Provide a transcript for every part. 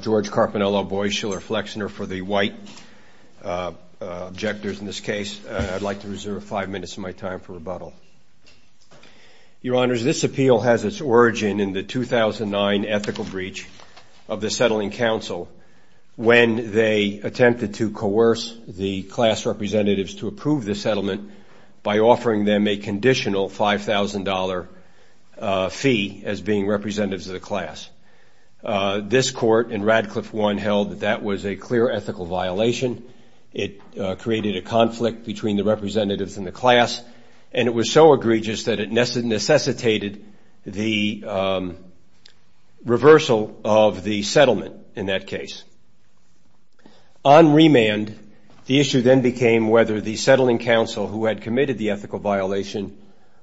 George Carpinello Boieschiller Flexner for the white objectors in this case. I'd like to reserve five minutes of my time for rebuttal. Your Honors, this appeal has its origin in the 2009 ethical breach of the Settling Council when they attempted to coerce the class representatives to approve the settlement by offering them representatives of the class. This court in Radcliffe 1 held that that was a clear ethical violation. It created a conflict between the representatives and the class, and it was so egregious that it necessitated the reversal of the settlement in that case. On remand, the issue then became whether the settling council who had committed the ethical violation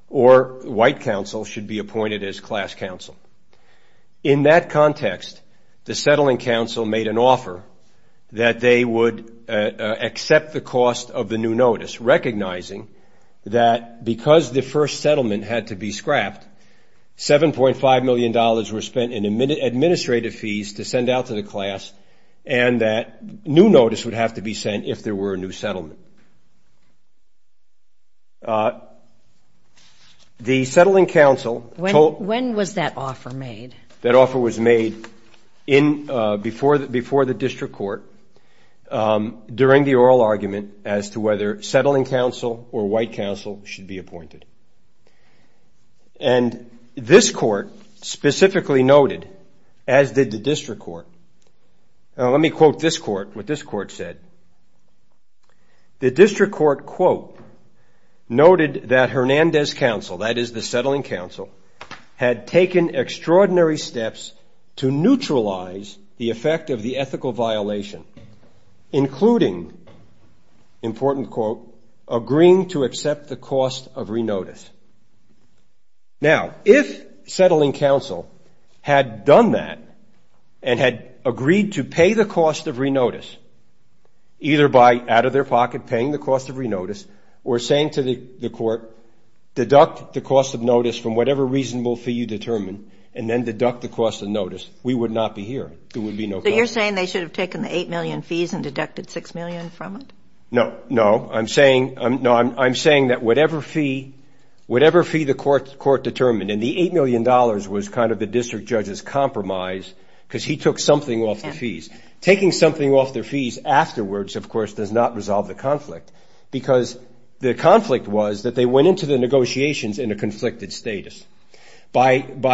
or white council should be appointed as class council. In that context, the Settling Council made an offer that they would accept the cost of the new notice, recognizing that because the first settlement had to be scrapped, $7.5 million were spent in administrative fees to send out to the class, and that new notice would have to be sent if there were a new settlement. The Settling Council told- When was that offer made? That offer was made before the district court during the oral argument as to whether settling council or white council should be appointed. And this court specifically noted, as did the district court, now let me quote this court, what this court said. The district court, quote, noted that Hernandez Council, that is the Settling Council, had taken extraordinary steps to neutralize the effect of the ethical violation, including, important quote, agreeing to accept the cost of re-notice. Now, if Settling Council had done that and had agreed to pay the cost of re-notice, either by out of their pocket paying the cost of re-notice or saying to the court, deduct the cost of notice from whatever reasonable fee you determine, and then deduct the cost of notice, we would not be here. There would be no problem. So you're saying they should have taken the $8 million fees and deducted $6 million from it? No, no. I'm saying that whatever fee the court determined, and the $8 million was kind of the district judge's compromise because he took something off the fees. Taking something off their fees afterwards, of course, does not resolve the conflict. Because the conflict was that they went into the negotiations in a conflicted status. They didn't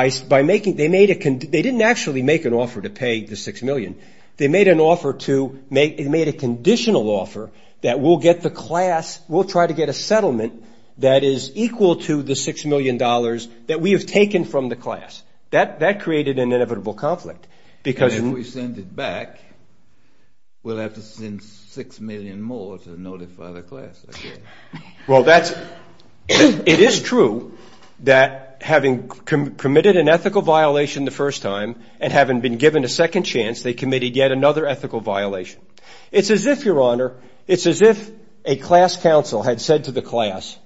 actually make an offer to pay the $6 million. They made a conditional offer that we'll get the class, we'll try to get a settlement that is equal to the $6 million that we have taken from the class. That created an inevitable conflict. Because if we send it back, we'll have to send $6 million more to notify the class again. Well, it is true that having committed an ethical violation the first time and having been given a second chance, they committed yet another ethical violation. It's as if, Your Honor, it's as if a class counsel had said to the class,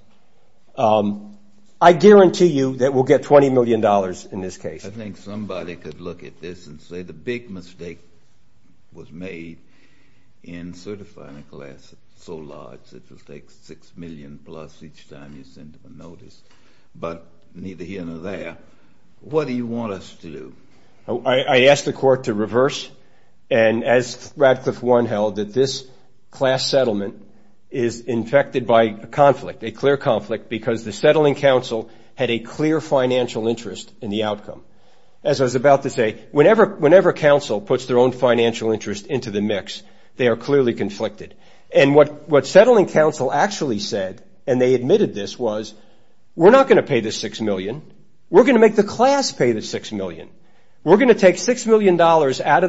I guarantee you that we'll get $20 million in this case. I think somebody could look at this and say the big mistake was made in certifying a class so large it will take $6 million plus each time you send them a notice. But neither here nor there, what do you want us to do? I asked the court to reverse. And as Radcliffe Warren held, that this class settlement is infected by a conflict, a clear conflict, because the settling counsel had a clear financial interest in the outcome. As I was about to say, whenever counsel puts their own financial interest into the mix, they are clearly conflicted. And what settling counsel actually said, and they admitted this, was we're not going to pay the $6 million. We're going to make the class pay the $6 million. We're going to take $6 million out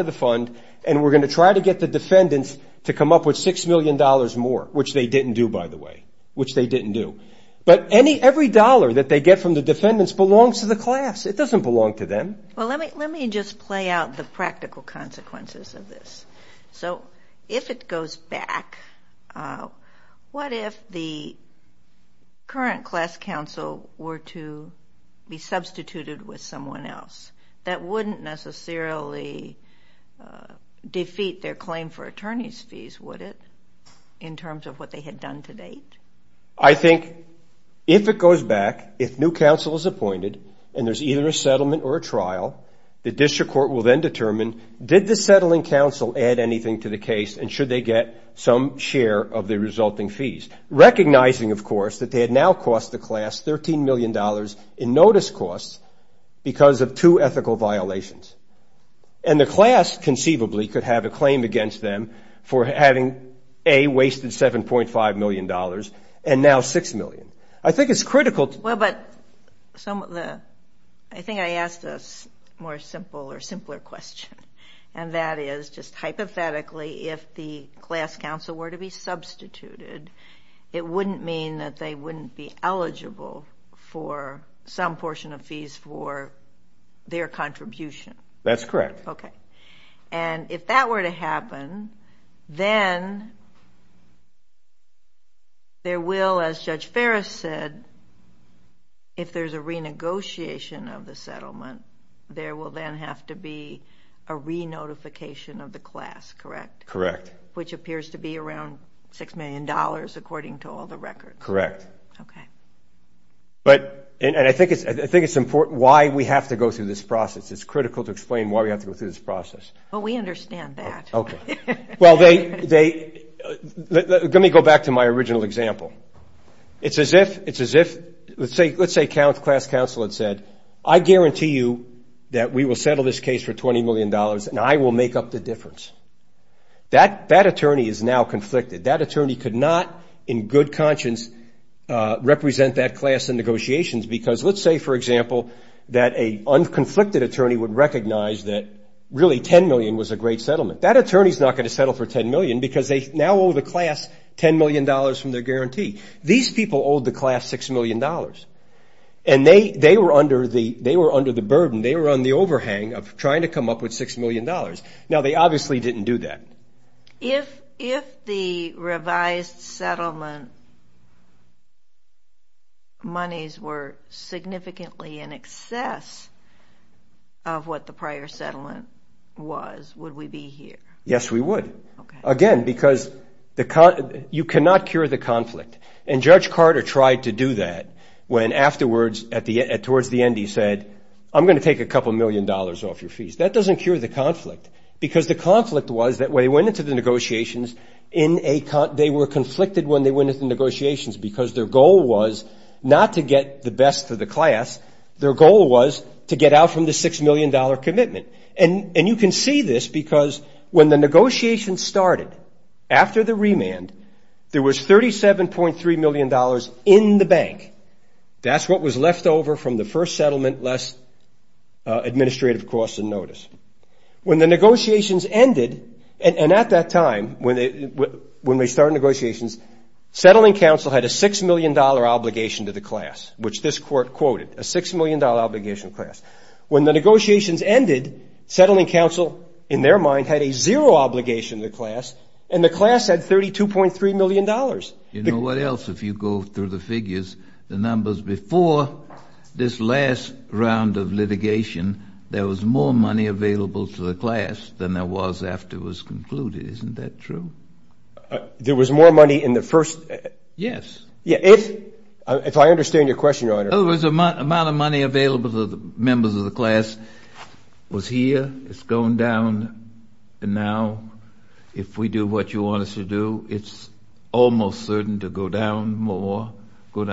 of the fund, and we're going to try to get the defendants to come up with $6 million more, which they didn't do, by the way. Which they didn't do. But every dollar that they get from the defendants belongs to the class. It doesn't belong to them. Well, let me just play out the practical consequences of this. So if it goes back, what if the current class counsel were to be substituted with someone else? That wouldn't necessarily defeat their claim for attorney's fees, would it, in terms of what they had done to date? I think if it goes back, if new counsel is appointed, and there's either a settlement or a trial, the district court will then determine, did the settling counsel add anything to the case, and should they get some share of the resulting fees? Recognizing, of course, that they had now cost the class $13 million in notice costs because of two ethical violations. And the class, conceivably, could have a claim against them for having, A, wasted $7.5 million, and now $6 million. I think it's critical. Well, but I think I asked a more simple or simpler question. And that is, just hypothetically, if the class counsel were to be substituted, it wouldn't mean that they wouldn't be eligible for some portion of fees for their contribution. That's correct. OK. And if that were to happen, then there will, as Judge Ferris said, if there's a renegotiation of the settlement, there will then have to be a re-notification of the class, correct? Correct. Which appears to be around $6 million, according to all the records. Correct. OK. But I think it's important why we have to go through this process. It's critical to explain why we have to go through this process. But we understand that. OK. Well, let me go back to my original example. It's as if, let's say class counsel had said, I guarantee you that we will settle this case for $20 million, and I will make up the difference. That attorney is now conflicted. That attorney could not, in good conscience, represent that class in negotiations. Because let's say, for example, that a unconflicted attorney would recognize that, really, $10 million was a great settlement. That attorney is not going to settle for $10 million because they now owe the class $10 million from their guarantee. These people owe the class $6 million. And they were under the burden. They were on the overhang of trying to come up with $6 million. Now, they obviously didn't do that. If the revised settlement monies were significantly in excess of what the prior settlement was, would we be here? Yes, we would. Again, because you cannot cure the conflict. And Judge Carter tried to do that when afterwards, towards the end, he said, I'm going to take a couple million dollars off your fees. That doesn't cure the conflict. Because the conflict was that when they went into the negotiations, they were conflicted when they went into the negotiations because their goal was not to get the best for the class. Their goal was to get out from the $6 million commitment. And you can see this because when the negotiations started after the remand, there was $37.3 million in the bank. That's what was left over from the first settlement, less administrative costs and notice. When the negotiations ended, and at that time, when they started negotiations, Settling Council had a $6 million obligation to the class, which this court quoted, a $6 million obligation to the class. When the negotiations ended, Settling Council, in their mind, had a zero obligation to the class. And the class had $32.3 million. You know what else? If you go through the figures, the numbers before this last round of litigation, there was more money available to the class than there was after it was concluded. Isn't that true? There was more money in the first? Yes. Yeah, if I understand your question, Your Honor. In other words, the amount of money available to the members of the class was here. It's going down. And now, if we do what you want us to do, it's almost certain to go down more. Does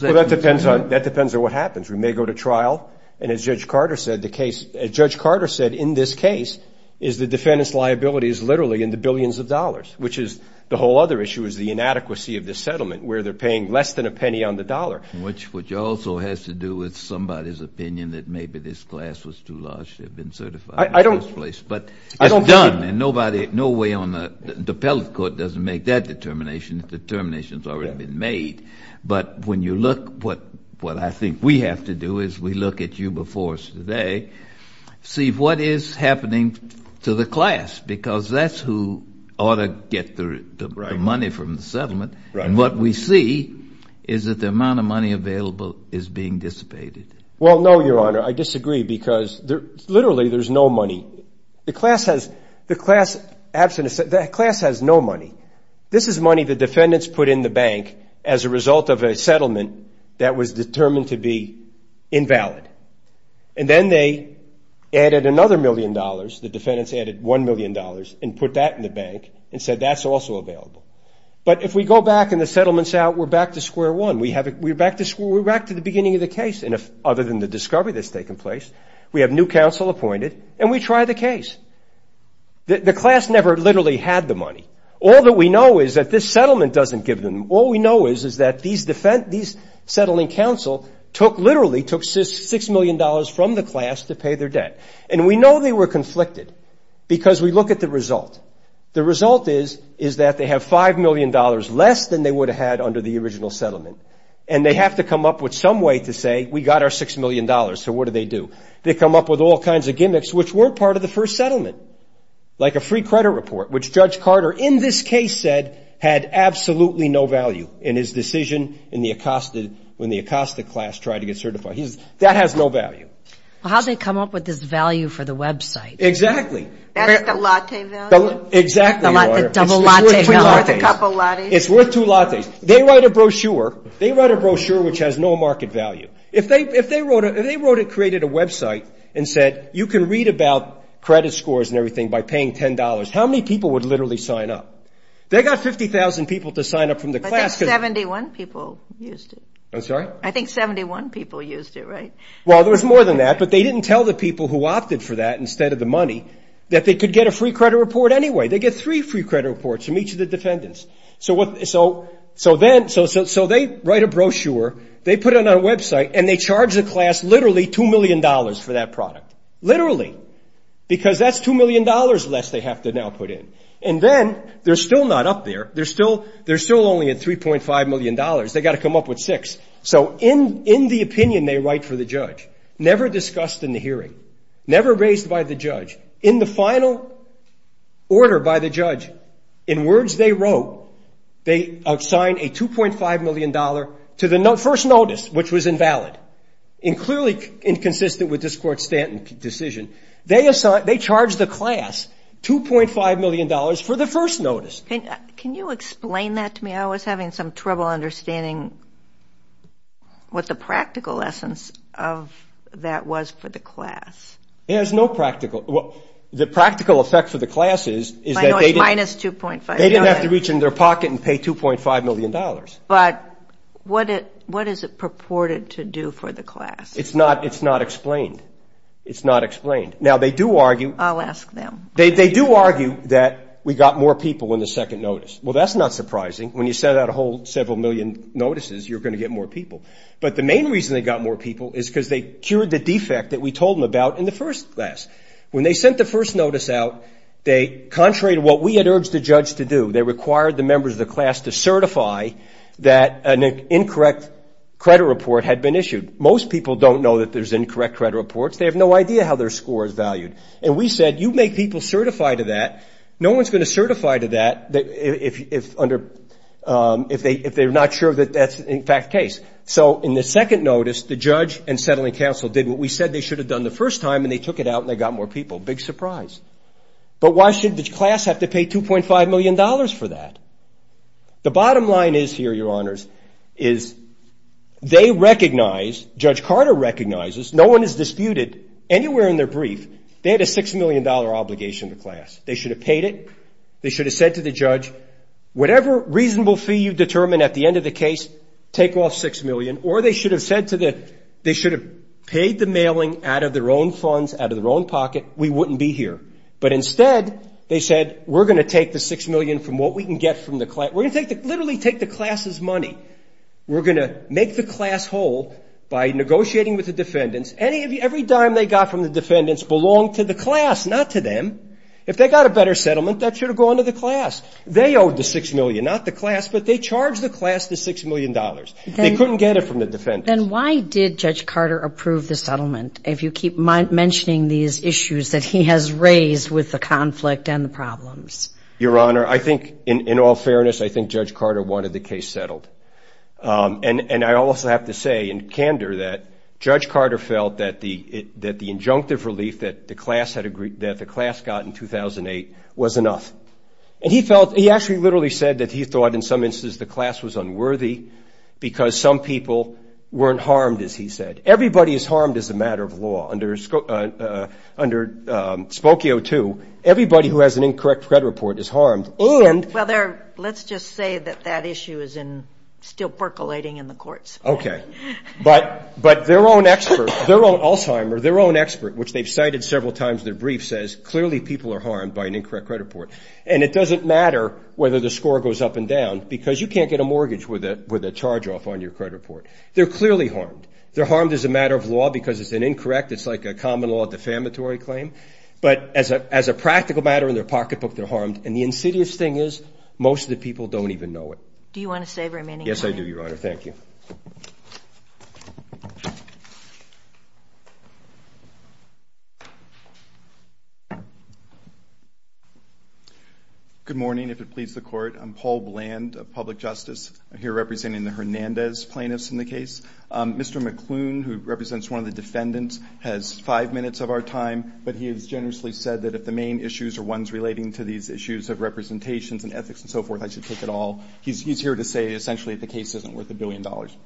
that make sense? That depends on what happens. We may go to trial. And as Judge Carter said, the case, as Judge Carter said, in this case, is the defendant's liability is literally in the billions of dollars, which is the whole other issue is the inadequacy of this settlement, where they're paying less than a penny on the dollar. Which also has to do with somebody's opinion that maybe this class was too large to have been certified in the first place. But it's done. And nobody, no way on the, the appellate court doesn't make that determination. The determination's already been made. But when you look, what I think we have to do is we look at you before us today, see what is happening to the class. Because that's who ought to get the money from the settlement. And what we see is that the amount of money available is being dissipated. Well, no, Your Honor. I disagree. Because literally, there's no money. The class has, the class absent, the class has no money. This is money the defendants put in the bank as a result of a settlement that was determined to be invalid. And then they added another million dollars. The defendants added $1 million and put that in the bank and said that's also available. But if we go back and the settlement's out, we're back to square one. We have, we're back to square, we're back to the beginning of the case. And if, other than the discovery that's taken place, we have new counsel appointed, and we try the case. The class never literally had the money. All that we know is that this settlement doesn't give them, all we know is that these settling counsel took, literally took $6 million from the class to pay their debt. And we know they were conflicted because we look at the result. The result is that they have $5 million less than they would have had under the original settlement. And they have to come up with some way to say, we got our $6 million, so what do they do? They come up with all kinds of gimmicks which weren't part of the first settlement, like a free credit report, which Judge Carter, in this case, said, had absolutely no value in his decision in the Acosta, when the Acosta class tried to get certified. He says, that has no value. How'd they come up with this value for the website? Exactly. That's the latte value? Exactly, Your Honor. The double latte. It's worth a couple lattes. It's worth two lattes. They write a brochure. They write a brochure which has no market value. If they wrote, if they wrote and created a website and said, you can read about credit scores and everything by paying $10, how many people would literally sign up? They got 50,000 people to sign up from the class. I think 71 people used it. I'm sorry? I think 71 people used it, right? Well, there was more than that, but they didn't tell the people who opted for that instead of the money that they could get a free credit report anyway. They get three free credit reports from each of the defendants. So what, so, so then, so they write a brochure, they put it on a website, and they charge the class literally $2 million for that product. Literally. Because that's $2 million less they have to now put in. And then, they're still not up there. They're still, they're still only at $3.5 million. They got to come up with six. So in, in the opinion they write for the judge, never discussed in the hearing, never raised by the judge, in the final order by the judge, in words they wrote, they assigned a $2.5 million to the first notice, which was invalid. And clearly inconsistent with this court's decision. They assigned, they charged the class $2.5 million for the first notice. Can you explain that to me? I was having some trouble understanding what the practical essence of that was for the class. It has no practical, well, the practical effect for the class is, is that they didn't have to reach in their pocket and pay $2.5 million. But what it, what is it purported to do for the class? It's not, it's not explained. It's not explained. Now they do argue. I'll ask them. They, they do argue that we got more people in the second notice. Well, that's not surprising. When you set out a whole several million notices, you're going to get more people. But the main reason they got more people is because they cured the defect that we told them about in the first class. When they sent the first notice out, they, contrary to what we had urged the judge to do, they required the members of the class to certify that an incorrect credit report had been issued. Most people don't know that there's incorrect credit reports. They have no idea how their score is valued. And we said, you make people certify to that. No one's going to certify to that if, if under, if they, if they're not sure that that's in fact the case. So in the second notice, the judge and settling council did what we said they should have done the first time. And they took it out and they got more people. Big surprise. But why should the class have to pay $2.5 million for that? The bottom line is here, your honors, is they recognize, Judge Carter recognizes, no one has disputed anywhere in their brief, they had a $6 million obligation to class. They should have paid it. They should have said to the judge, whatever reasonable fee you determine at the end of the case, take off 6 million. Or they should have said to the, they should have paid the mailing out of their own funds, out of their own pocket, we wouldn't be here. But instead they said, we're going to take the 6 million from what we can get from the class. We're going to literally take the class's money. We're going to make the class whole by negotiating with the defendants. Every dime they got from the defendants belonged to the class, not to them. If they got a better settlement, that should have gone to the class. They owed the 6 million, not the class, but they charged the class the $6 million. They couldn't get it from the defendants. Then why did Judge Carter approve the settlement if you keep mentioning these issues that he has raised with the conflict and the problems? Your honor, I think in all fairness, I think Judge Carter wanted the case settled. And I also have to say in candor that Judge Carter felt that the injunctive relief that the class got in 2008 was enough. And he felt, he actually literally said that he thought in some instances the class was unworthy because some people weren't harmed, as he said. Everybody is harmed as a matter of law. Under Spokio 2, everybody who has an incorrect credit report is harmed and- Well, let's just say that that issue is still percolating in the courts. Okay, but their own expert, their own Alzheimer, their own expert, which they've cited several times in their brief says clearly people are harmed by an incorrect credit report. And it doesn't matter whether the score goes up and down because you can't get a mortgage with a charge off on your credit report. They're clearly harmed. They're harmed as a matter of law because it's an incorrect, it's like a common law defamatory claim. But as a practical matter in their pocketbook, they're harmed. And the insidious thing is most of the people don't even know it. Do you want to say very many? Yes, I do, Your Honor. Thank you. Good morning, if it pleases the court. I'm Paul Bland of Public Justice. I'm here representing the Hernandez plaintiffs in the case. Mr. McClune, who represents one of the defendants has five minutes of our time, but he has generously said that if the main issues are ones relating to these issues of representations and ethics and so forth, I should take it all. He's here to say essentially the case isn't worth a billion dollars.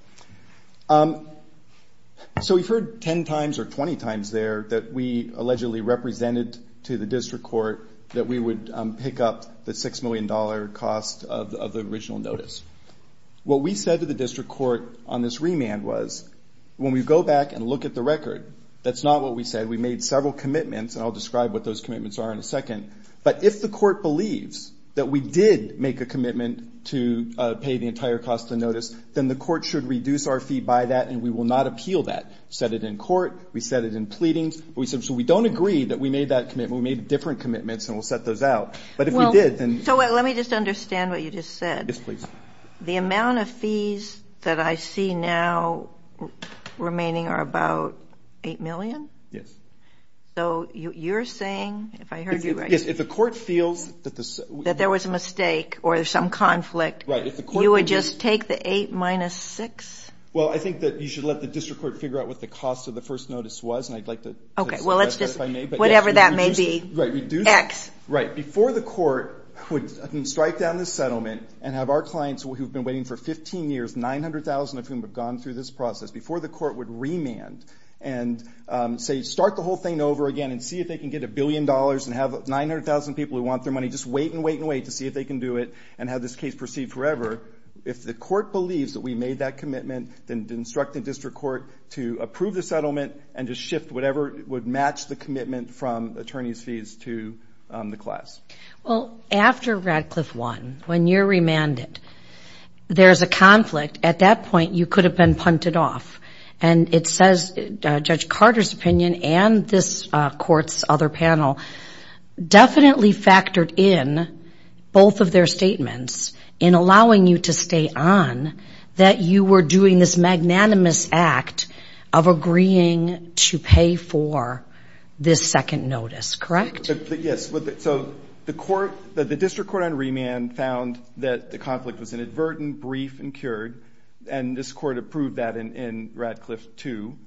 So we've heard 10 times or 20 times there that we allegedly represented to the district court that we would pick up the $6 million cost of the original notice. What we said to the district court on this remand was when we go back and look at the record, that's not what we said. We made several commitments and I'll describe what those commitments are in a second. But if the court believes that we did make a commitment to pay the entire cost of the notice, then the court should reduce our fee by that and we will not appeal that. Set it in court, we set it in pleadings. We said, so we don't agree that we made that commitment. We made different commitments and we'll set those out. But if we did, then- So let me just understand what you just said. Yes, please. The amount of fees that I see now remaining are about 8 million? Yes. So you're saying, if I heard you right- Yes, if the court feels that the- That there was a mistake or some conflict, you would just take the eight minus six? Well, I think that you should let the district court figure out what the cost of the first notice was and I'd like to- Okay, well, let's just, whatever that may be, X. Right, before the court would strike down the settlement and have our clients who've been waiting for 15 years, 900,000 of whom have gone through this process, before the court would remand and say, start the whole thing over again and see if they can get a billion dollars and have 900,000 people who want their money just wait and wait and wait to see if they can do it and have this case proceed forever. If the court believes that we made that commitment, then instruct the district court to approve the settlement and just shift whatever would match the commitment from attorney's fees to the class. Well, after Radcliffe won, when you're remanded, there's a conflict. At that point, you could have been punted off. And it says Judge Carter's opinion and this court's other panel definitely factored in both of their statements in allowing you to stay on that you were doing this magnanimous act of agreeing to pay for this second notice, correct? Yes, so the court, the district court on remand found that the conflict was inadvertent, brief, and cured and this court approved that in Radcliffe too.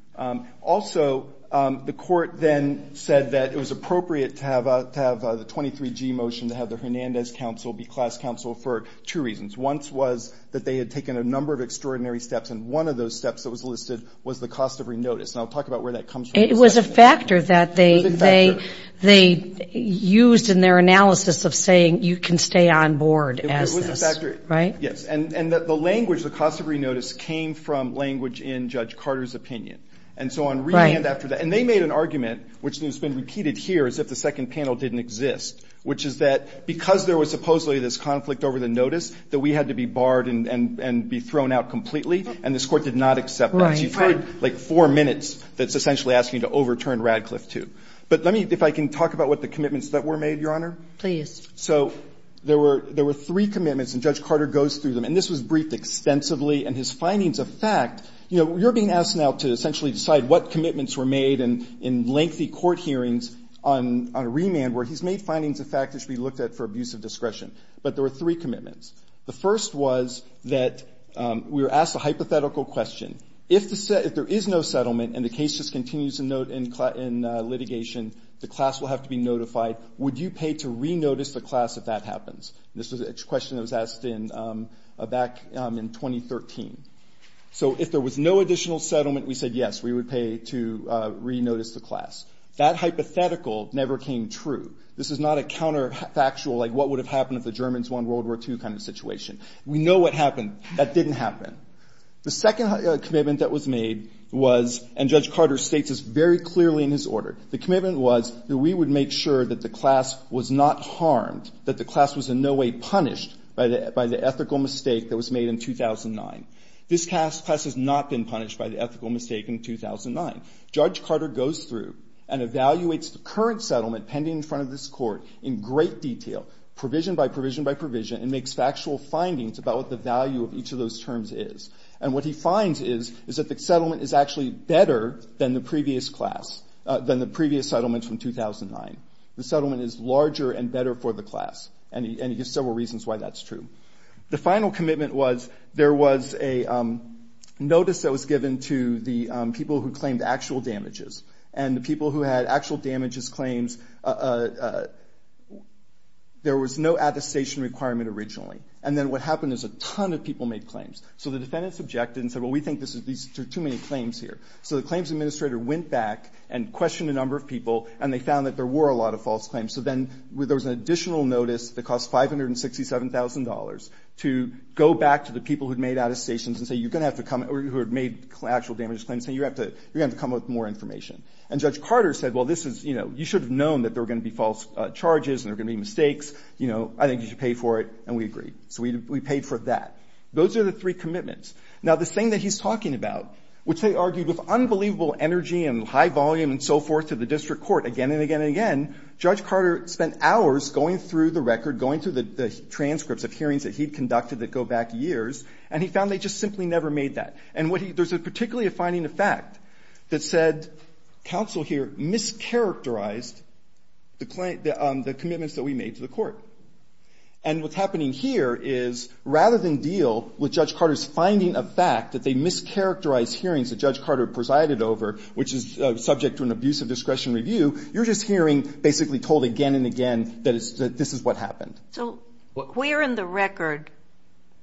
Also, the court then said that it was appropriate to have the 23G motion to have the Hernandez Council be class counsel for two reasons. One was that they had taken a number of extraordinary steps and one of those steps that was listed was the cost of re-notice. And I'll talk about where that comes from. It was a factor that they used in their analysis of saying you can stay on board as this, right? Yes, and that the language, the cost of re-notice came from language in Judge Carter's opinion. And so on remand after that, and they made an argument which has been repeated here as if the second panel didn't exist, which is that because there was supposedly this conflict over the notice that we had to be barred and be thrown out completely and this court did not accept that. You've heard like four minutes that's essentially asking you to overturn Radcliffe too. But let me, if I can talk about what the commitments that were made, Your Honor. Please. So there were three commitments and Judge Carter goes through them and this was briefed extensively and his findings of fact, you know, you're being asked now to essentially decide what commitments were made in lengthy court hearings on remand where he's made findings of fact that should be looked at for abuse of discretion. But there were three commitments. The first was that we were asked a hypothetical question. If there is no settlement and the case just continues in litigation, the class will have to be notified. Would you pay to re-notice the class if that happens? This was a question that was asked back in 2013. So if there was no additional settlement, we said yes, we would pay to re-notice the class. That hypothetical never came true. This is not a counterfactual, like what would have happened if the Germans won World War II kind of situation. We know what happened. That didn't happen. The second commitment that was made was, and Judge Carter states this very clearly in his order. The commitment was that we would make sure that the class was not harmed, that the class was in no way punished by the ethical mistake that was made in 2009. This class has not been punished by the ethical mistake in 2009. Judge Carter goes through and evaluates the current settlement pending in front of this Court in great detail, provision by provision by provision, and makes factual findings about what the value of each of those terms is. And what he finds is, is that the settlement is actually better than the previous class, than the previous settlement from 2009. The settlement is larger and better for the class. And he gives several reasons why that's true. The final commitment was, there was a notice that was given to the people who claimed actual damages. And the people who had actual damages claims, there was no attestation requirement originally. And then what happened is a ton of people made claims. So the defendants objected and said, well, we think there are too many claims here. So the claims administrator went back and questioned a number of people, and they found that there were a lot of false claims. So then there was an additional notice that cost $567,000 to go back to the people who'd made attestations and say, you're gonna have to come, or who had made actual damages claims, and you're gonna have to come with more information. And Judge Carter said, well, this is, you should have known that there were gonna be false charges and there were gonna be mistakes. I think you should pay for it. And we agreed. So we paid for that. Those are the three commitments. Now, the thing that he's talking about, which they argued with unbelievable energy and high volume and so forth to the district court again and again and again, Judge Carter spent hours going through the record, going through the transcripts of hearings that he'd conducted that go back years, and he found they just simply never made that. And what he, there's a particularly a finding of fact that said, counsel here mischaracterized the commitments that we made to the court. And what's happening here is, rather than deal with Judge Carter's finding of fact that they mischaracterized hearings that Judge Carter presided over, which is subject to an abuse of discretion review, you're just hearing basically told again and again that this is what happened. So where in the record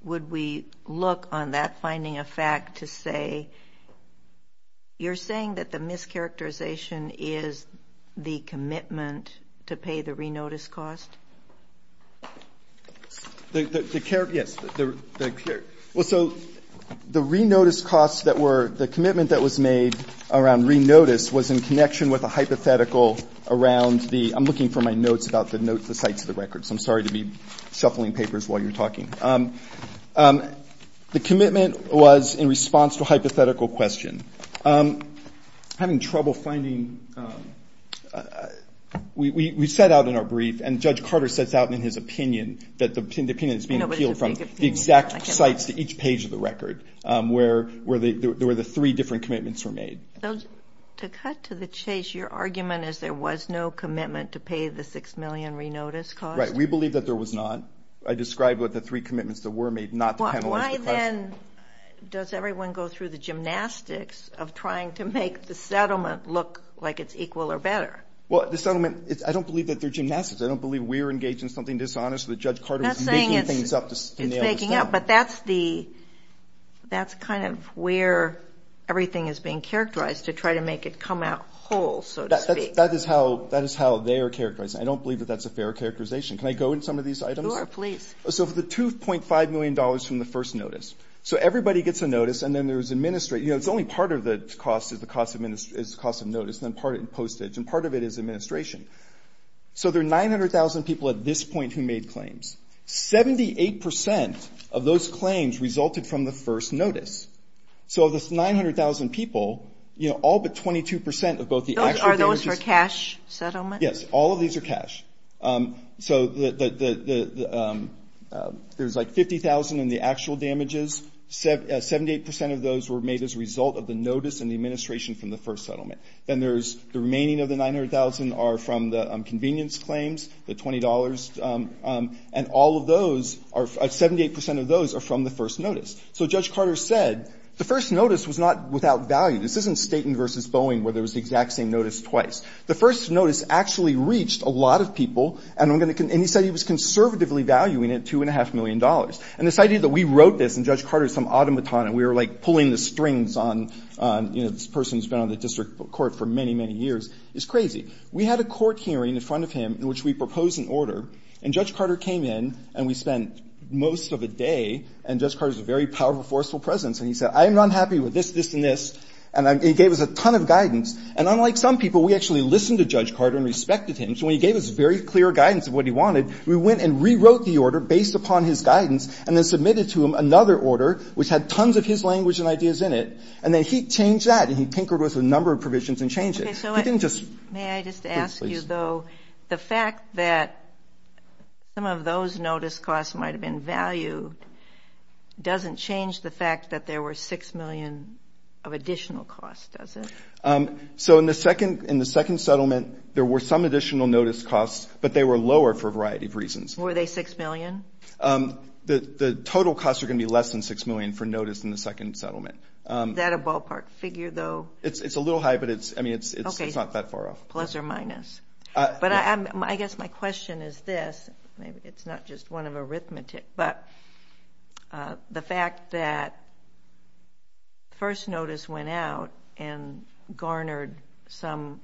would we look on that finding of fact to say, you're saying that the mischaracterization is the commitment to pay the re-notice cost? The care, yes, the care. Well, so the re-notice costs that were, the commitment that was made around re-notice was in connection with a hypothetical around the, I'm looking for my notes about the sites of the records. I'm sorry to be shuffling papers while you're talking. The commitment was in response to a hypothetical question. Having trouble finding, we set out in our brief and Judge Carter sets out in his opinion that the opinion that's being appealed from the exact sites to each page of the record where the three different commitments were made. To cut to the chase, your argument is there was no commitment to pay the six million re-notice cost? Right, we believe that there was not. I described what the three commitments that were made, not the penalized. Why then does everyone go through the gymnastics of trying to make the settlement look like it's equal or better? Well, the settlement, I don't believe that they're gymnastics. I don't believe we're engaged in something dishonest that Judge Carter is making things up to nail this down. But that's kind of where everything is being characterized to try to make it come out whole, so to speak. That is how they are characterized. I don't believe that that's a fair characterization. Can I go into some of these items? Sure, please. So for the $2.5 million from the first notice. So everybody gets a notice and then there's administrate. You know, it's only part of the cost is the cost of notice, then part in postage. And part of it is administration. So there are 900,000 people at this point who made claims. 78% of those claims resulted from the first notice. So of this 900,000 people, you know, all but 22% of both the actual damages. Are those for cash settlement? Yes, all of these are cash. So there's like 50,000 in the actual damages. 78% of those were made as a result of the notice and the administration from the first settlement. Then there's the remaining of the 900,000 are from the convenience claims, the $20. And all of those are, 78% of those are from the first notice. So Judge Carter said the first notice was not without value. This isn't Staten versus Boeing where there was the exact same notice twice. The first notice actually reached a lot of people and he said he was conservatively valuing it $2.5 million. And this idea that we wrote this and Judge Carter is some automaton and we were like pulling the strings on, you know, this person's been on the district court for many, many years is crazy. We had a court hearing in front of him in which we proposed an order and Judge Carter came in and we spent most of a day and Judge Carter's a very powerful, forceful presence. And he said, I am not happy with this, this, and this. And he gave us a ton of guidance. And unlike some people, we actually listened to Judge Carter and respected him. So when he gave us very clear guidance of what he wanted, we went and rewrote the order based upon his guidance and then submitted to him another order which had tons of his language and ideas in it. And then he changed that and he tinkered with a number of provisions and changed it. He didn't just. May I just ask you though, the fact that some of those notice costs might've been valued doesn't change the fact that there were 6 million of additional costs, does it? So in the second settlement, there were some additional notice costs, but they were lower for a variety of reasons. Were they 6 million? The total costs are gonna be less than 6 million for notice in the second settlement. Is that a ballpark figure though? It's a little high, but it's, I mean, it's not that far off. Plus or minus. But I guess my question is this, it's not just one of arithmetic, but the fact that first notice went out and garnered some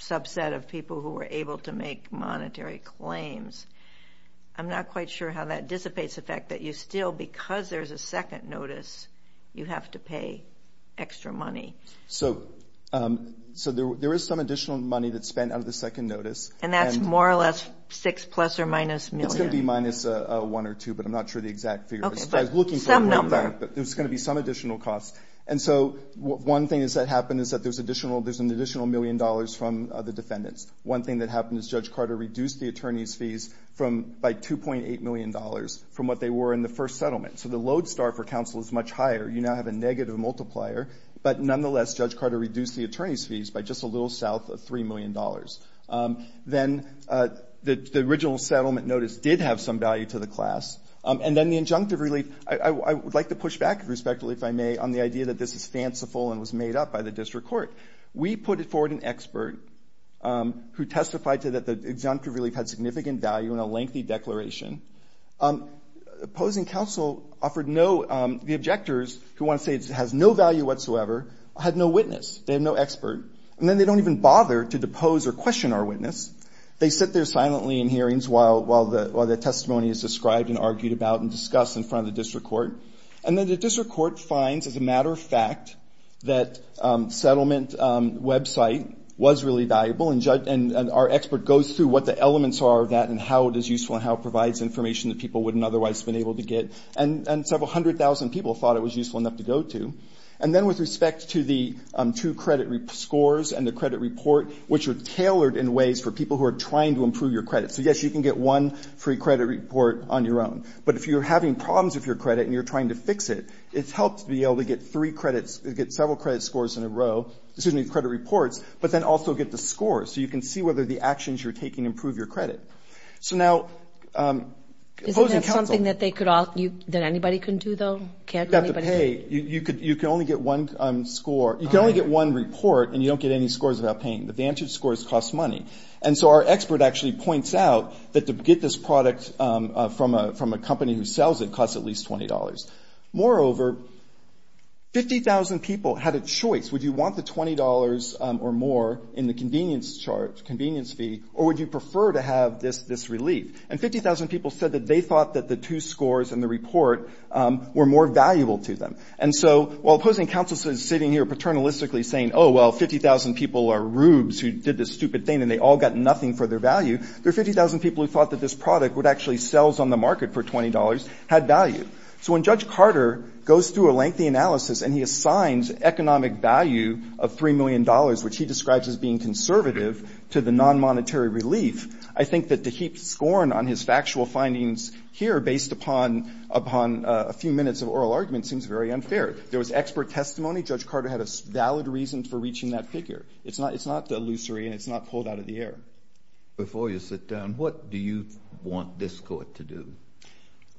subset of people who were able to make monetary claims, I'm not quite sure how that dissipates the fact that you still, because there's a second notice, you have to pay extra money. So there is some additional money that's spent out of the second notice. And that's more or less six plus or minus million. It's gonna be minus one or two, but I'm not sure the exact figure. Okay, but some number. But there's gonna be some additional costs. And so one thing that happened is that there's an additional million dollars from the defendants. One thing that happened is Judge Carter reduced the attorney's fees by $2.8 million from what they were in the first settlement. So the load star for counsel is much higher. You now have a negative multiplier, but nonetheless, Judge Carter reduced the attorney's fees by just a little south of $3 million. Then the original settlement notice did have some value to the class. And then the injunctive relief, I would like to push back, respectfully, if I may, on the idea that this is fanciful and was made up by the district court. We put forward an expert who testified to that the injunctive relief had significant value in a lengthy declaration. Opposing counsel offered no, the objectors who wanna say it has no value had no witness, they have no expert. And then they don't even bother to depose or question our witness. They sit there silently in hearings while the testimony is described and argued about and discussed in front of the district court. And then the district court finds, as a matter of fact, that settlement website was really valuable and our expert goes through what the elements are of that and how it is useful and how it provides information that people wouldn't otherwise have been able to get. And several hundred thousand people thought it was useful enough to go to. And then with respect to the two credit scores and the credit report, which are tailored in ways for people who are trying to improve your credit. So yes, you can get one free credit report on your own. But if you're having problems with your credit and you're trying to fix it, it's helped to be able to get three credits, to get several credit scores in a row, excuse me, credit reports, but then also get the score. So you can see whether the actions you're taking improve your credit. So now, opposing counsel- Is it something that they could all, that anybody can do though? Can't anybody- Hey, you can only get one score. You can only get one report and you don't get any scores without paying. The vantage scores cost money. And so our expert actually points out that to get this product from a company who sells it costs at least $20. Moreover, 50,000 people had a choice. Would you want the $20 or more in the convenience charge, convenience fee, or would you prefer to have this relief? And 50,000 people said that they thought that the two scores and the report were more valuable to them. And so while opposing counsel is sitting here paternalistically saying, oh, well, 50,000 people are rubes who did this stupid thing and they all got nothing for their value, there are 50,000 people who thought that this product would actually sells on the market for $20, had value. So when Judge Carter goes through a lengthy analysis and he assigns economic value of $3 million, which he describes as being conservative to the non-monetary relief, I think that to heap scorn on his factual findings here based upon a few minutes of oral argument seems very unfair. There was expert testimony. Judge Carter had a valid reason for reaching that figure. It's not illusory and it's not pulled out of the air. Before you sit down, what do you want this court to do?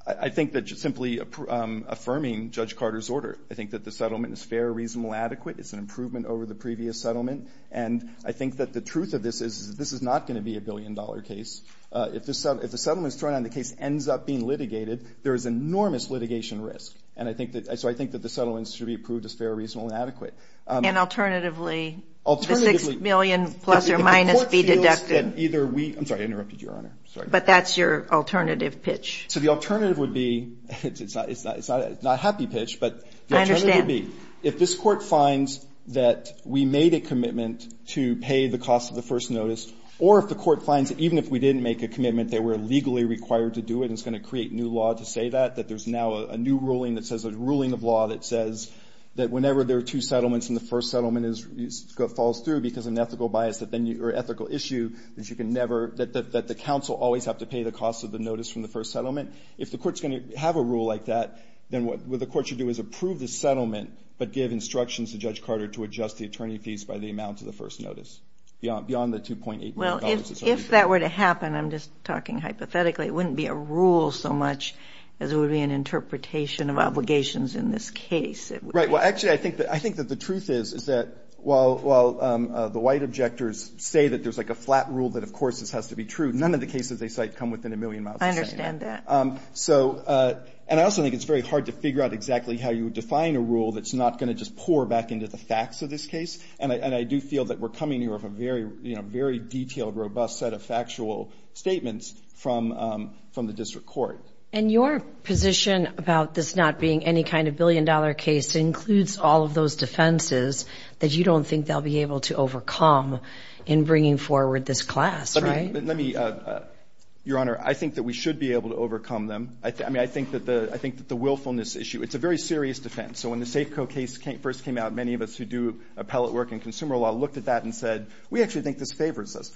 I think that just simply affirming Judge Carter's order. I think that the settlement is fair, reasonable, adequate. It's an improvement over the previous settlement. And I think that the truth of this is this is not gonna be a billion dollar case. If the settlement is thrown down, the case ends up being litigated, there is enormous litigation risk. And so I think that the settlement should be approved as fair, reasonable, and adequate. And alternatively, the $6 million plus or minus be deducted. If the court feels that either we, I'm sorry, I interrupted you, Your Honor. But that's your alternative pitch. So the alternative would be, it's not a happy pitch, but the alternative would be, if this court finds that we made a commitment to pay the cost of the first notice, or if the court finds that even if we didn't make a commitment, they were legally required to do it, and it's gonna create new law to say that, that there's now a new ruling that says, a ruling of law that says that whenever there are two settlements and the first settlement falls through because of an ethical issue, that you can never, that the counsel always have to pay the cost of the notice from the first settlement. If the court's gonna have a rule like that, then what the court should do is approve the settlement, but give instructions to Judge Carter to adjust the attorney fees by the amount of the first notice, beyond the $2.8 million. Well, if that were to happen, I'm just talking hypothetically, it wouldn't be a rule so much as it would be an interpretation of obligations in this case. Right, well, actually, I think that the truth is, is that while the white objectors say that there's like a flat rule that, of course, this has to be true, none of the cases they cite come within a million miles of saying that. I understand that. So, and I also think it's very hard to figure out exactly how you would define a rule that's not gonna just pour back into the facts of this case. And I do feel that we're coming here with a very detailed, robust set of factual statements from the district court. And your position about this not being any kind of billion dollar case includes all of those defenses that you don't think they'll be able to overcome in bringing forward this class, right? Let me, Your Honor, I think that we should be able to overcome them. I mean, I think that the willfulness issue, it's a very serious defense. So when the Safeco case first came out, many of us who do appellate work in consumer law looked at that and said, we actually think this favors us.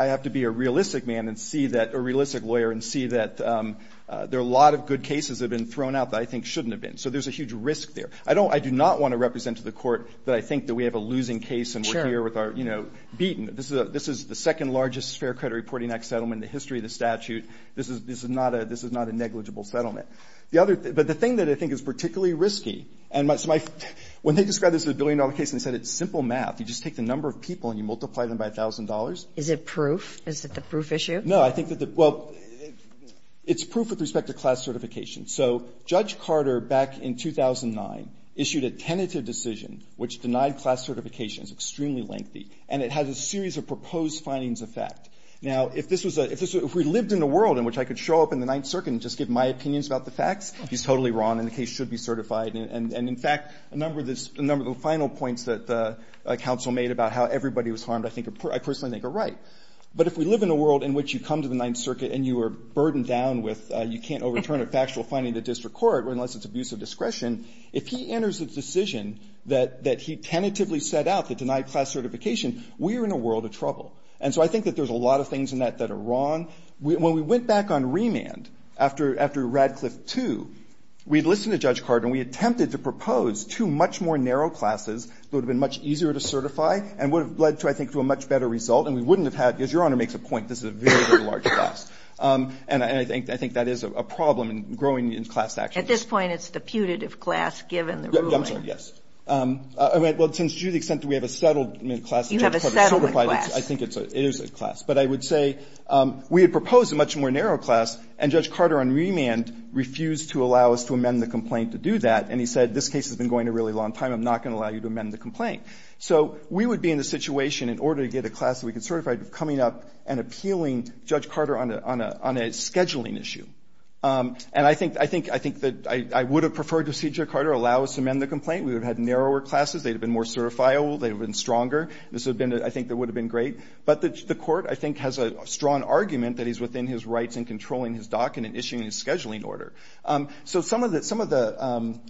I have to be a realistic man and see that, a realistic lawyer and see that there are a lot of good cases that have been thrown out that I think shouldn't have been. So there's a huge risk there. I do not want to represent to the court that I think that we have a losing case and we're here with our, you know, beaten. This is the second largest Fair Credit Reporting Act settlement in the history of the statute. This is not a negligible settlement. The other, but the thing that I think is particularly risky, and when they described this as a billion dollar case and said it's simple math, you just take the number of people and you multiply them by $1,000. Is it proof? Is it the proof issue? No, I think that the, well, it's proof with respect to class certification. So Judge Carter, back in 2009, issued a tentative decision which denied class certification. It's extremely lengthy. And it has a series of proposed findings of fact. Now, if this was a, if we lived in a world in which I could show up in the Ninth Circuit and just give my opinions about the facts, he's totally wrong and the case should be certified. And in fact, a number of the final points that the counsel made about how everybody was harmed, I think, I personally think are right. But if we live in a world in which you come to the Ninth Circuit and you are burdened down with, you can't overturn a factual finding to district court unless it's abuse of discretion, if he enters a decision that he tentatively set out to deny class certification, we are in a world of trouble. And so I think that there's a lot of things in that that are wrong. When we went back on remand after Radcliffe II, we'd listened to Judge Carter and we attempted to propose two much more narrow classes that would have been much easier to certify and would have led to, I think, to a much better result. And we wouldn't have had, because Your Honor makes a point, this is a very, very large class. And I think that is a problem in growing in class action. At this point, it's the putative class, given the ruling. I'm sorry, yes. Well, since to the extent that we have a settlement class that Judge Carter certified. You have a settlement class. I think it is a class. But I would say we had proposed a much more narrow class and Judge Carter on remand refused to allow us to amend the complaint to do that. And he said, this case has been going a really long time. I'm not gonna allow you to amend the complaint. So we would be in a situation, in order to get a class that we could certify, coming up and appealing Judge Carter on a scheduling issue. And I think that I would have preferred to see Judge Carter allow us to amend the complaint. We would have had narrower classes. They'd have been more certifiable. They'd have been stronger. This would have been, I think, that would have been great. But the court, I think, has a strong argument that he's within his rights in controlling his dock and in issuing a scheduling order. So some of the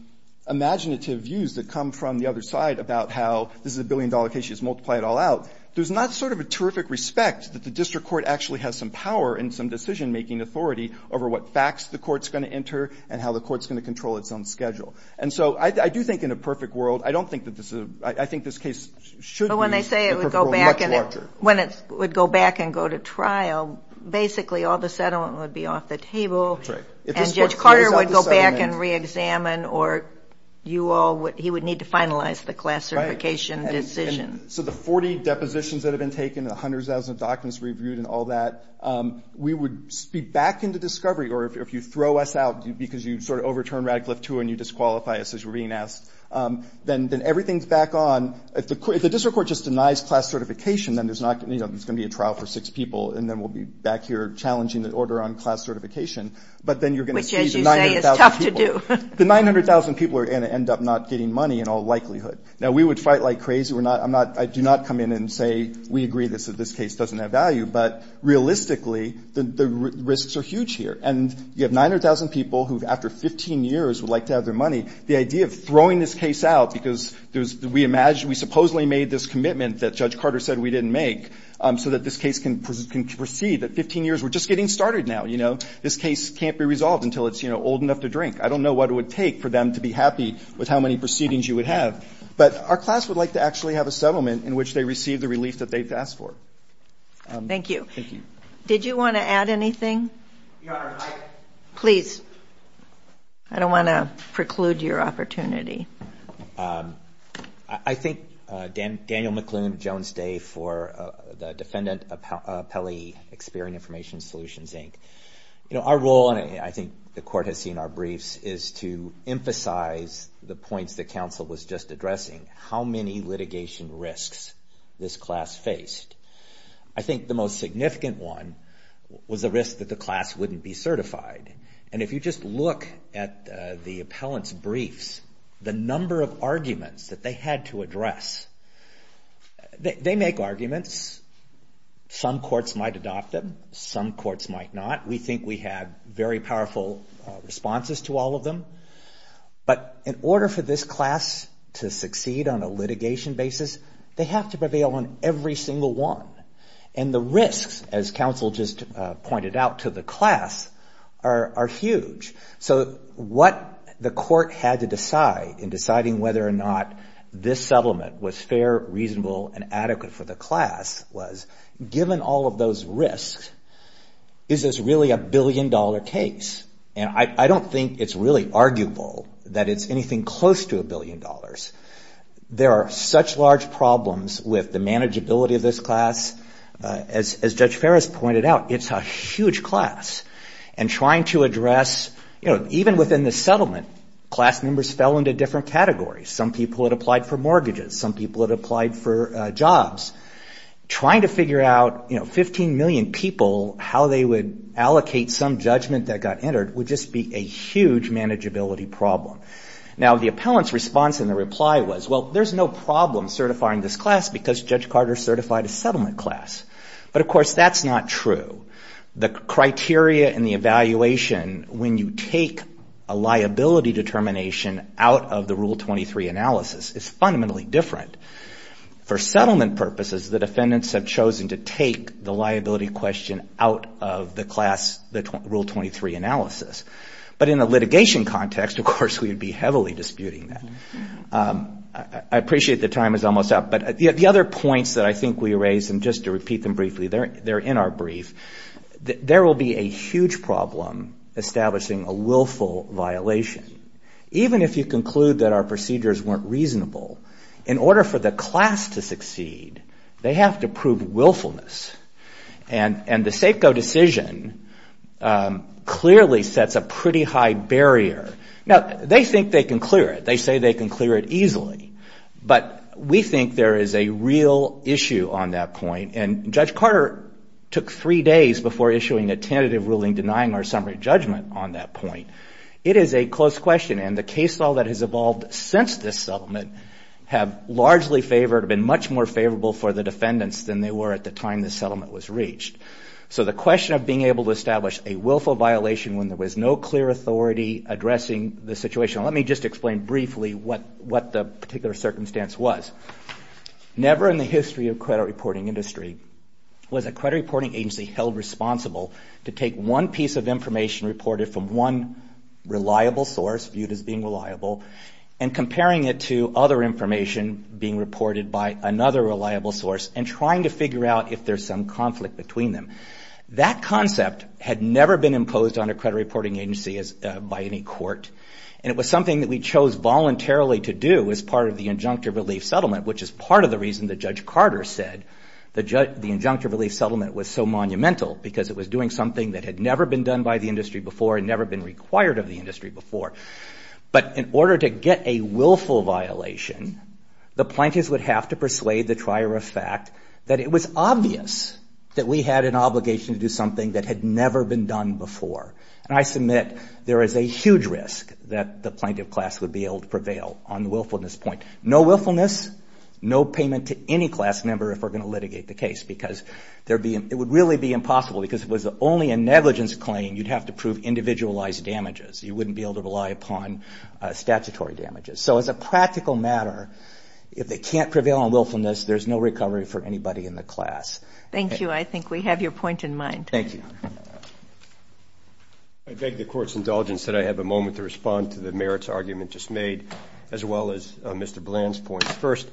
imaginative views that come from the other side about how this is a billion-dollar case. You just multiply it all out. There's not sort of a terrific respect that the district court actually has some power and some decision-making authority over what facts the court's gonna enter and how the court's gonna control its own schedule. And so I do think in a perfect world, I don't think that this is, I think this case should be a perfect world, much larger. When it would go back and go to trial, basically all the settlement would be off the table. That's right. And Judge Carter would go back and re-examine or you all, he would need to finalize the class certification decision. So the 40 depositions that have been taken, the hundreds of thousands of documents reviewed and all that, we would be back into discovery. Or if you throw us out because you sort of overturn Radcliffe II and you disqualify us as we're being asked, then everything's back on. If the district court just denies class certification, then there's not, you know, there's gonna be a trial for six people. And then we'll be back here challenging the order on class certification. But then you're gonna see the 900,000 people. Which, as you say, is tough to do. The 900,000 people are gonna end up not getting money in all likelihood. Now we would fight like crazy. We're not, I'm not, I do not come in and say, we agree that this case doesn't have value. But realistically, the risks are huge here. And you have 900,000 people who've, after 15 years, would like to have their money. The idea of throwing this case out because there's, we imagine, we supposedly made this commitment that Judge Carter said we didn't make so that this case can proceed. At 15 years, we're just getting started now, you know. This case can't be resolved until it's, you know, old enough to drink. I don't know what it would take for them to be happy with how many proceedings you would have. But our class would like to actually have a settlement in which they receive the relief that they've asked for. Thank you. Thank you. Did you want to add anything? Your Honor, I. Please. I don't want to preclude your opportunity. I think Daniel McLoone, Jones Day for the Defendant Appellee, Experian Information Solutions, Inc. You know, our role, and I think the court has seen our briefs, is to emphasize the points that counsel was just addressing. How many litigation risks this class faced. I think the most significant one was the risk that the class wouldn't be certified. And if you just look at the appellant's briefs, the number of arguments that they had to address. They make arguments. Some courts might adopt them. Some courts might not. We think we had very powerful responses to all of them. But in order for this class to succeed on a litigation basis, they have to prevail on every single one. And the risks, as counsel just pointed out, to the class are huge. So what the court had to decide in deciding whether or not this settlement was fair, reasonable, and adequate for the class was given all of those risks, is this really a billion-dollar case? And I don't think it's really arguable that it's anything close to a billion dollars. There are such large problems with the manageability of this class. As Judge Ferris pointed out, it's a huge class. And trying to address, you know, even within the settlement, class members fell into different categories. Some people had applied for mortgages. Some people had applied for jobs. Trying to figure out, you know, 15 million people, how they would allocate some judgment that got entered would just be a huge manageability problem. Now, the appellant's response in the reply was, well, there's no problem certifying this class because Judge Carter certified a settlement class. But of course, that's not true. The criteria and the evaluation when you take a liability determination out of the Rule 23 analysis is fundamentally different. For settlement purposes, the defendants have chosen to take the liability question out of the class, the Rule 23 analysis. But in a litigation context, of course, we would be heavily disputing that. I appreciate the time is almost up, but the other points that I think we raised, and just to repeat them briefly, they're in our brief, that there will be a huge problem establishing a willful violation. Even if you conclude that our procedures weren't reasonable, in order for the class to succeed, they have to prove willfulness. And the Safeco decision clearly sets a pretty high barrier. Now, they think they can clear it. They say they can clear it easily. But we think there is a real issue on that point. And Judge Carter took three days before issuing a tentative ruling denying our summary judgment on that point. It is a close question, and the case law that has evolved since this settlement have largely favored, have been much more favorable for the defendants than they were at the time the settlement was reached. So the question of being able to establish a willful violation when there was no clear authority addressing the situation. Let me just explain briefly what the particular circumstance was. Never in the history of credit reporting industry was a credit reporting agency held responsible to take one piece of information reported from one reliable source, viewed as being reliable, and comparing it to other information being reported by another reliable source and trying to figure out if there's some conflict between them. That concept had never been imposed on a credit reporting agency by any court. And it was something that we chose voluntarily to do as part of the injunctive relief settlement, which is part of the reason that Judge Carter said the injunctive relief settlement was so monumental because it was doing something that had never been done by the industry before and never been required of the industry before. But in order to get a willful violation, the plaintiffs would have to persuade the trier of fact that it was obvious that we had an obligation to do something that had never been done before. And I submit there is a huge risk that the plaintiff class would be able to prevail on the willfulness point. No willfulness, no payment to any class member if we're gonna litigate the case because it would really be impossible because if it was only a negligence claim, you'd have to prove individualized damages. You wouldn't be able to rely upon statutory damages. So as a practical matter, if they can't prevail on willfulness, there's no recovery for anybody in the class. Thank you. I think we have your point in mind. Thank you. I beg the court's indulgence that I have a moment to respond to the merits argument just made, as well as Mr. Bland's point. First,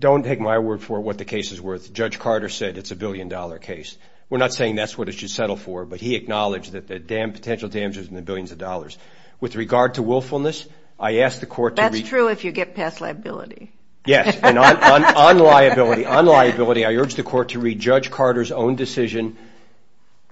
don't take my word for what the case is worth. Judge Carter said it's a billion dollar case. We're not saying that's what it should settle for, but he acknowledged that the potential damage was in the billions of dollars. With regard to willfulness, I ask the court to- That's true if you get past liability. Yes, on liability, on liability, I urge the court to read Judge Carter's own decision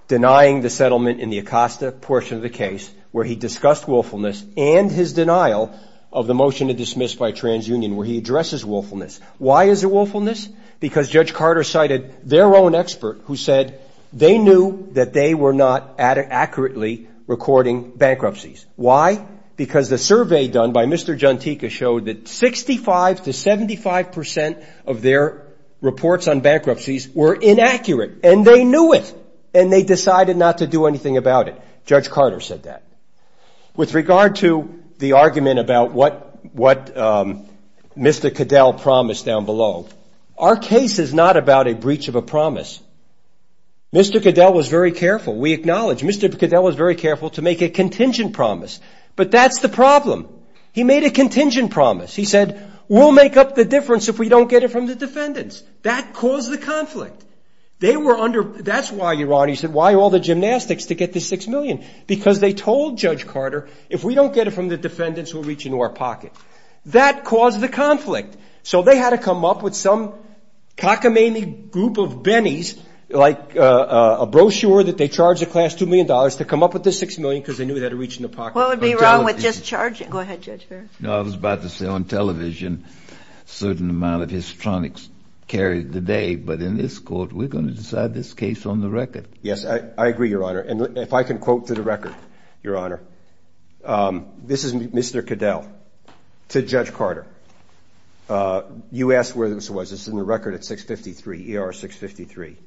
denying the settlement in the Acosta portion of the case where he discussed willfulness and his denial of the motion to dismiss by TransUnion where he addresses willfulness. Why is it willfulness? Because Judge Carter cited their own expert who said they knew that they were not accurately recording bankruptcies. Why? Because the survey done by Mr. Jantika showed that 65 to 75% of their reports on bankruptcies were inaccurate and they knew it and they decided not to do anything about it. Judge Carter said that. With regard to the argument about what Mr. Cadell promised down below, our case is not about a breach of a promise. Mr. Cadell was very careful. We acknowledge Mr. Cadell was very careful to make a contingent promise, but that's the problem. He made a contingent promise. He said, we'll make up the difference if we don't get it from the defendants. That caused the conflict. They were under- That's why you're wrong. He said, why all the gymnastics to get the six million? Because they told Judge Carter, if we don't get it from the defendants, we'll reach into our pocket. That caused the conflict. So they had to come up with some cockamamie group of bennies, like a brochure that they charged the class $2 million to come up with the six million because they knew they had to reach in the pocket. What would be wrong with just charging? Go ahead, Judge Ferris. No, I was about to say on television, certain amount of histronics carried the day, but in this court, we're going to decide this case on the record. Yes, I agree, Your Honor. And if I can quote to the record, Your Honor. This is Mr. Cadell to Judge Carter. You asked where this was. It's in the record at 653, ER 653.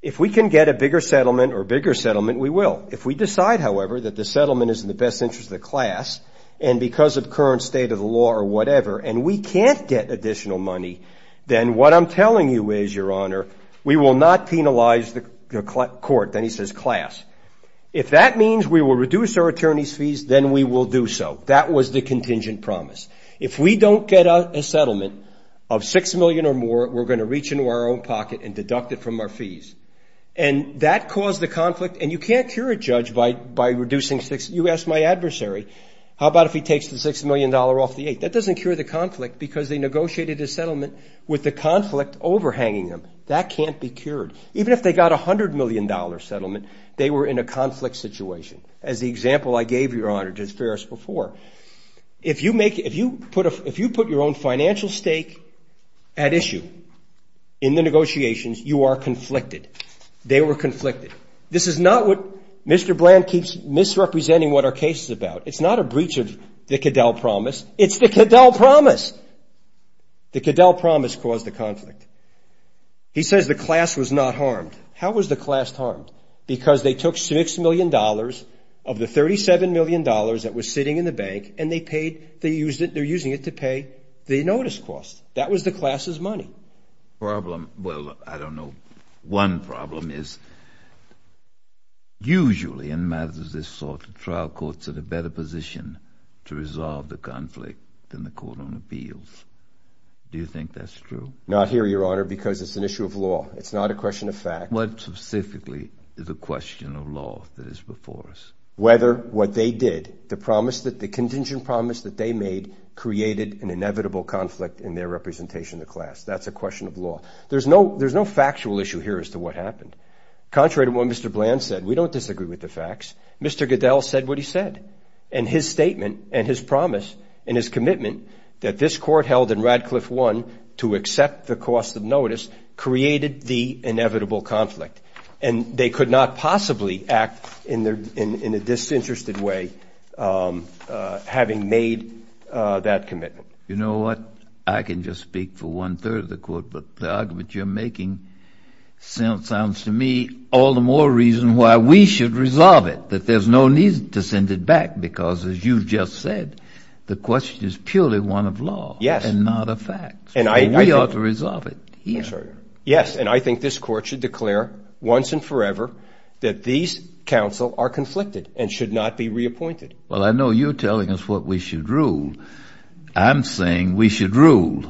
If we can get a bigger settlement or bigger settlement, we will. If we decide, however, that the settlement is in the best interest of the class and because of current state of the law or whatever, and we can't get additional money, then what I'm telling you is, Your Honor, we will not penalize the court. Then he says class. If that means we will reduce our attorney's fees, then we will do so. That was the contingent promise. If we don't get a settlement of six million or more, we're going to reach into our own pocket and deduct it from our fees. And that caused the conflict. And you can't cure a judge by reducing six. You asked my adversary, how about if he takes the $6 million off the eight? That doesn't cure the conflict because they negotiated a settlement with the conflict overhanging them. That can't be cured. Even if they got $100 million settlement, they were in a conflict situation. As the example I gave, Your Honor, just fair as before. If you put your own financial stake at issue in the negotiations, you are conflicted. They were conflicted. This is not what Mr. Bland keeps misrepresenting what our case is about. It's not a breach of the Cadell promise. It's the Cadell promise. The Cadell promise caused the conflict. He says the class was not harmed. How was the class harmed? Because they took $6 million of the $37 million that was sitting in the bank and they paid, they used it, they're using it to pay the notice cost. That was the class's money. Problem, well, I don't know. One problem is usually in matters of this sort, the trial courts are in a better position to resolve the conflict than the court on appeals. Do you think that's true? Not here, Your Honor, because it's an issue of law. It's not a question of fact. What specifically is a question of law that is before us? Whether what they did, the promise that, the contingent promise that they made created an inevitable conflict in their representation of the class. That's a question of law. There's no factual issue here as to what happened. Contrary to what Mr. Bland said, we don't disagree with the facts. Mr. Cadell said what he said. And his statement and his promise and his commitment that this court held in Radcliffe 1 to accept the cost of notice created the inevitable conflict. And they could not possibly act in a disinterested way having made that commitment. You know what, I can just speak for one third of the court, but the argument you're making sounds to me all the more reason why we should resolve it, that there's no need to send it back because as you've just said, the question is purely one of law and not of facts. And we ought to resolve it here. Yes, and I think this court should declare once and forever that these counsel are conflicted and should not be reappointed. Well, I know you're telling us what we should rule. I'm saying we should rule.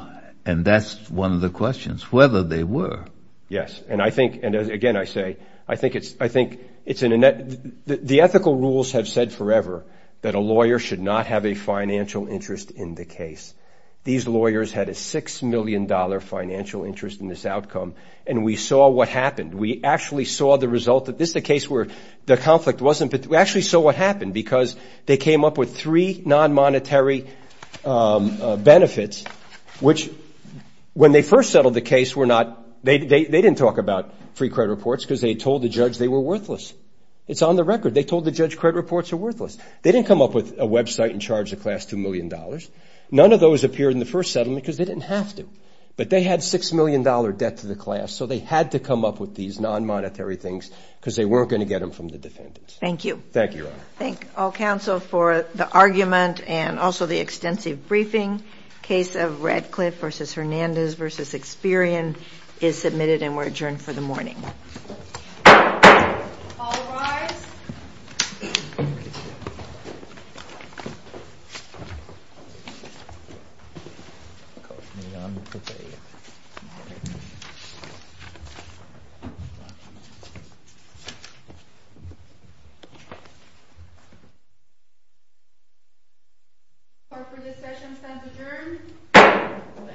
And that's one of the questions, whether they were. Yes, and I think, and again, I say, I think it's in a net, the ethical rules have said forever that a lawyer should not have a financial interest in the case. These lawyers had a $6 million financial interest in this outcome, and we saw what happened. We actually saw the result that this is a case where the conflict wasn't, we actually saw what happened because they came up with three non-monetary benefits, which when they first settled the case were not, they didn't talk about free credit reports because they told the judge they were worthless. It's on the record. They told the judge credit reports are worthless. They didn't come up with a website and charge the class $2 million. None of those appeared in the first settlement because they didn't have to. But they had $6 million debt to the class, so they had to come up with these non-monetary things because they weren't going to get them from the defendants. Thank you. Thank you, Your Honor. Thank all counsel for the argument and also the extensive briefing. Case of Radcliffe v. Hernandez v. Experian is submitted and we're adjourned for the morning. All rise. Thank you. Court for this session stands adjourned.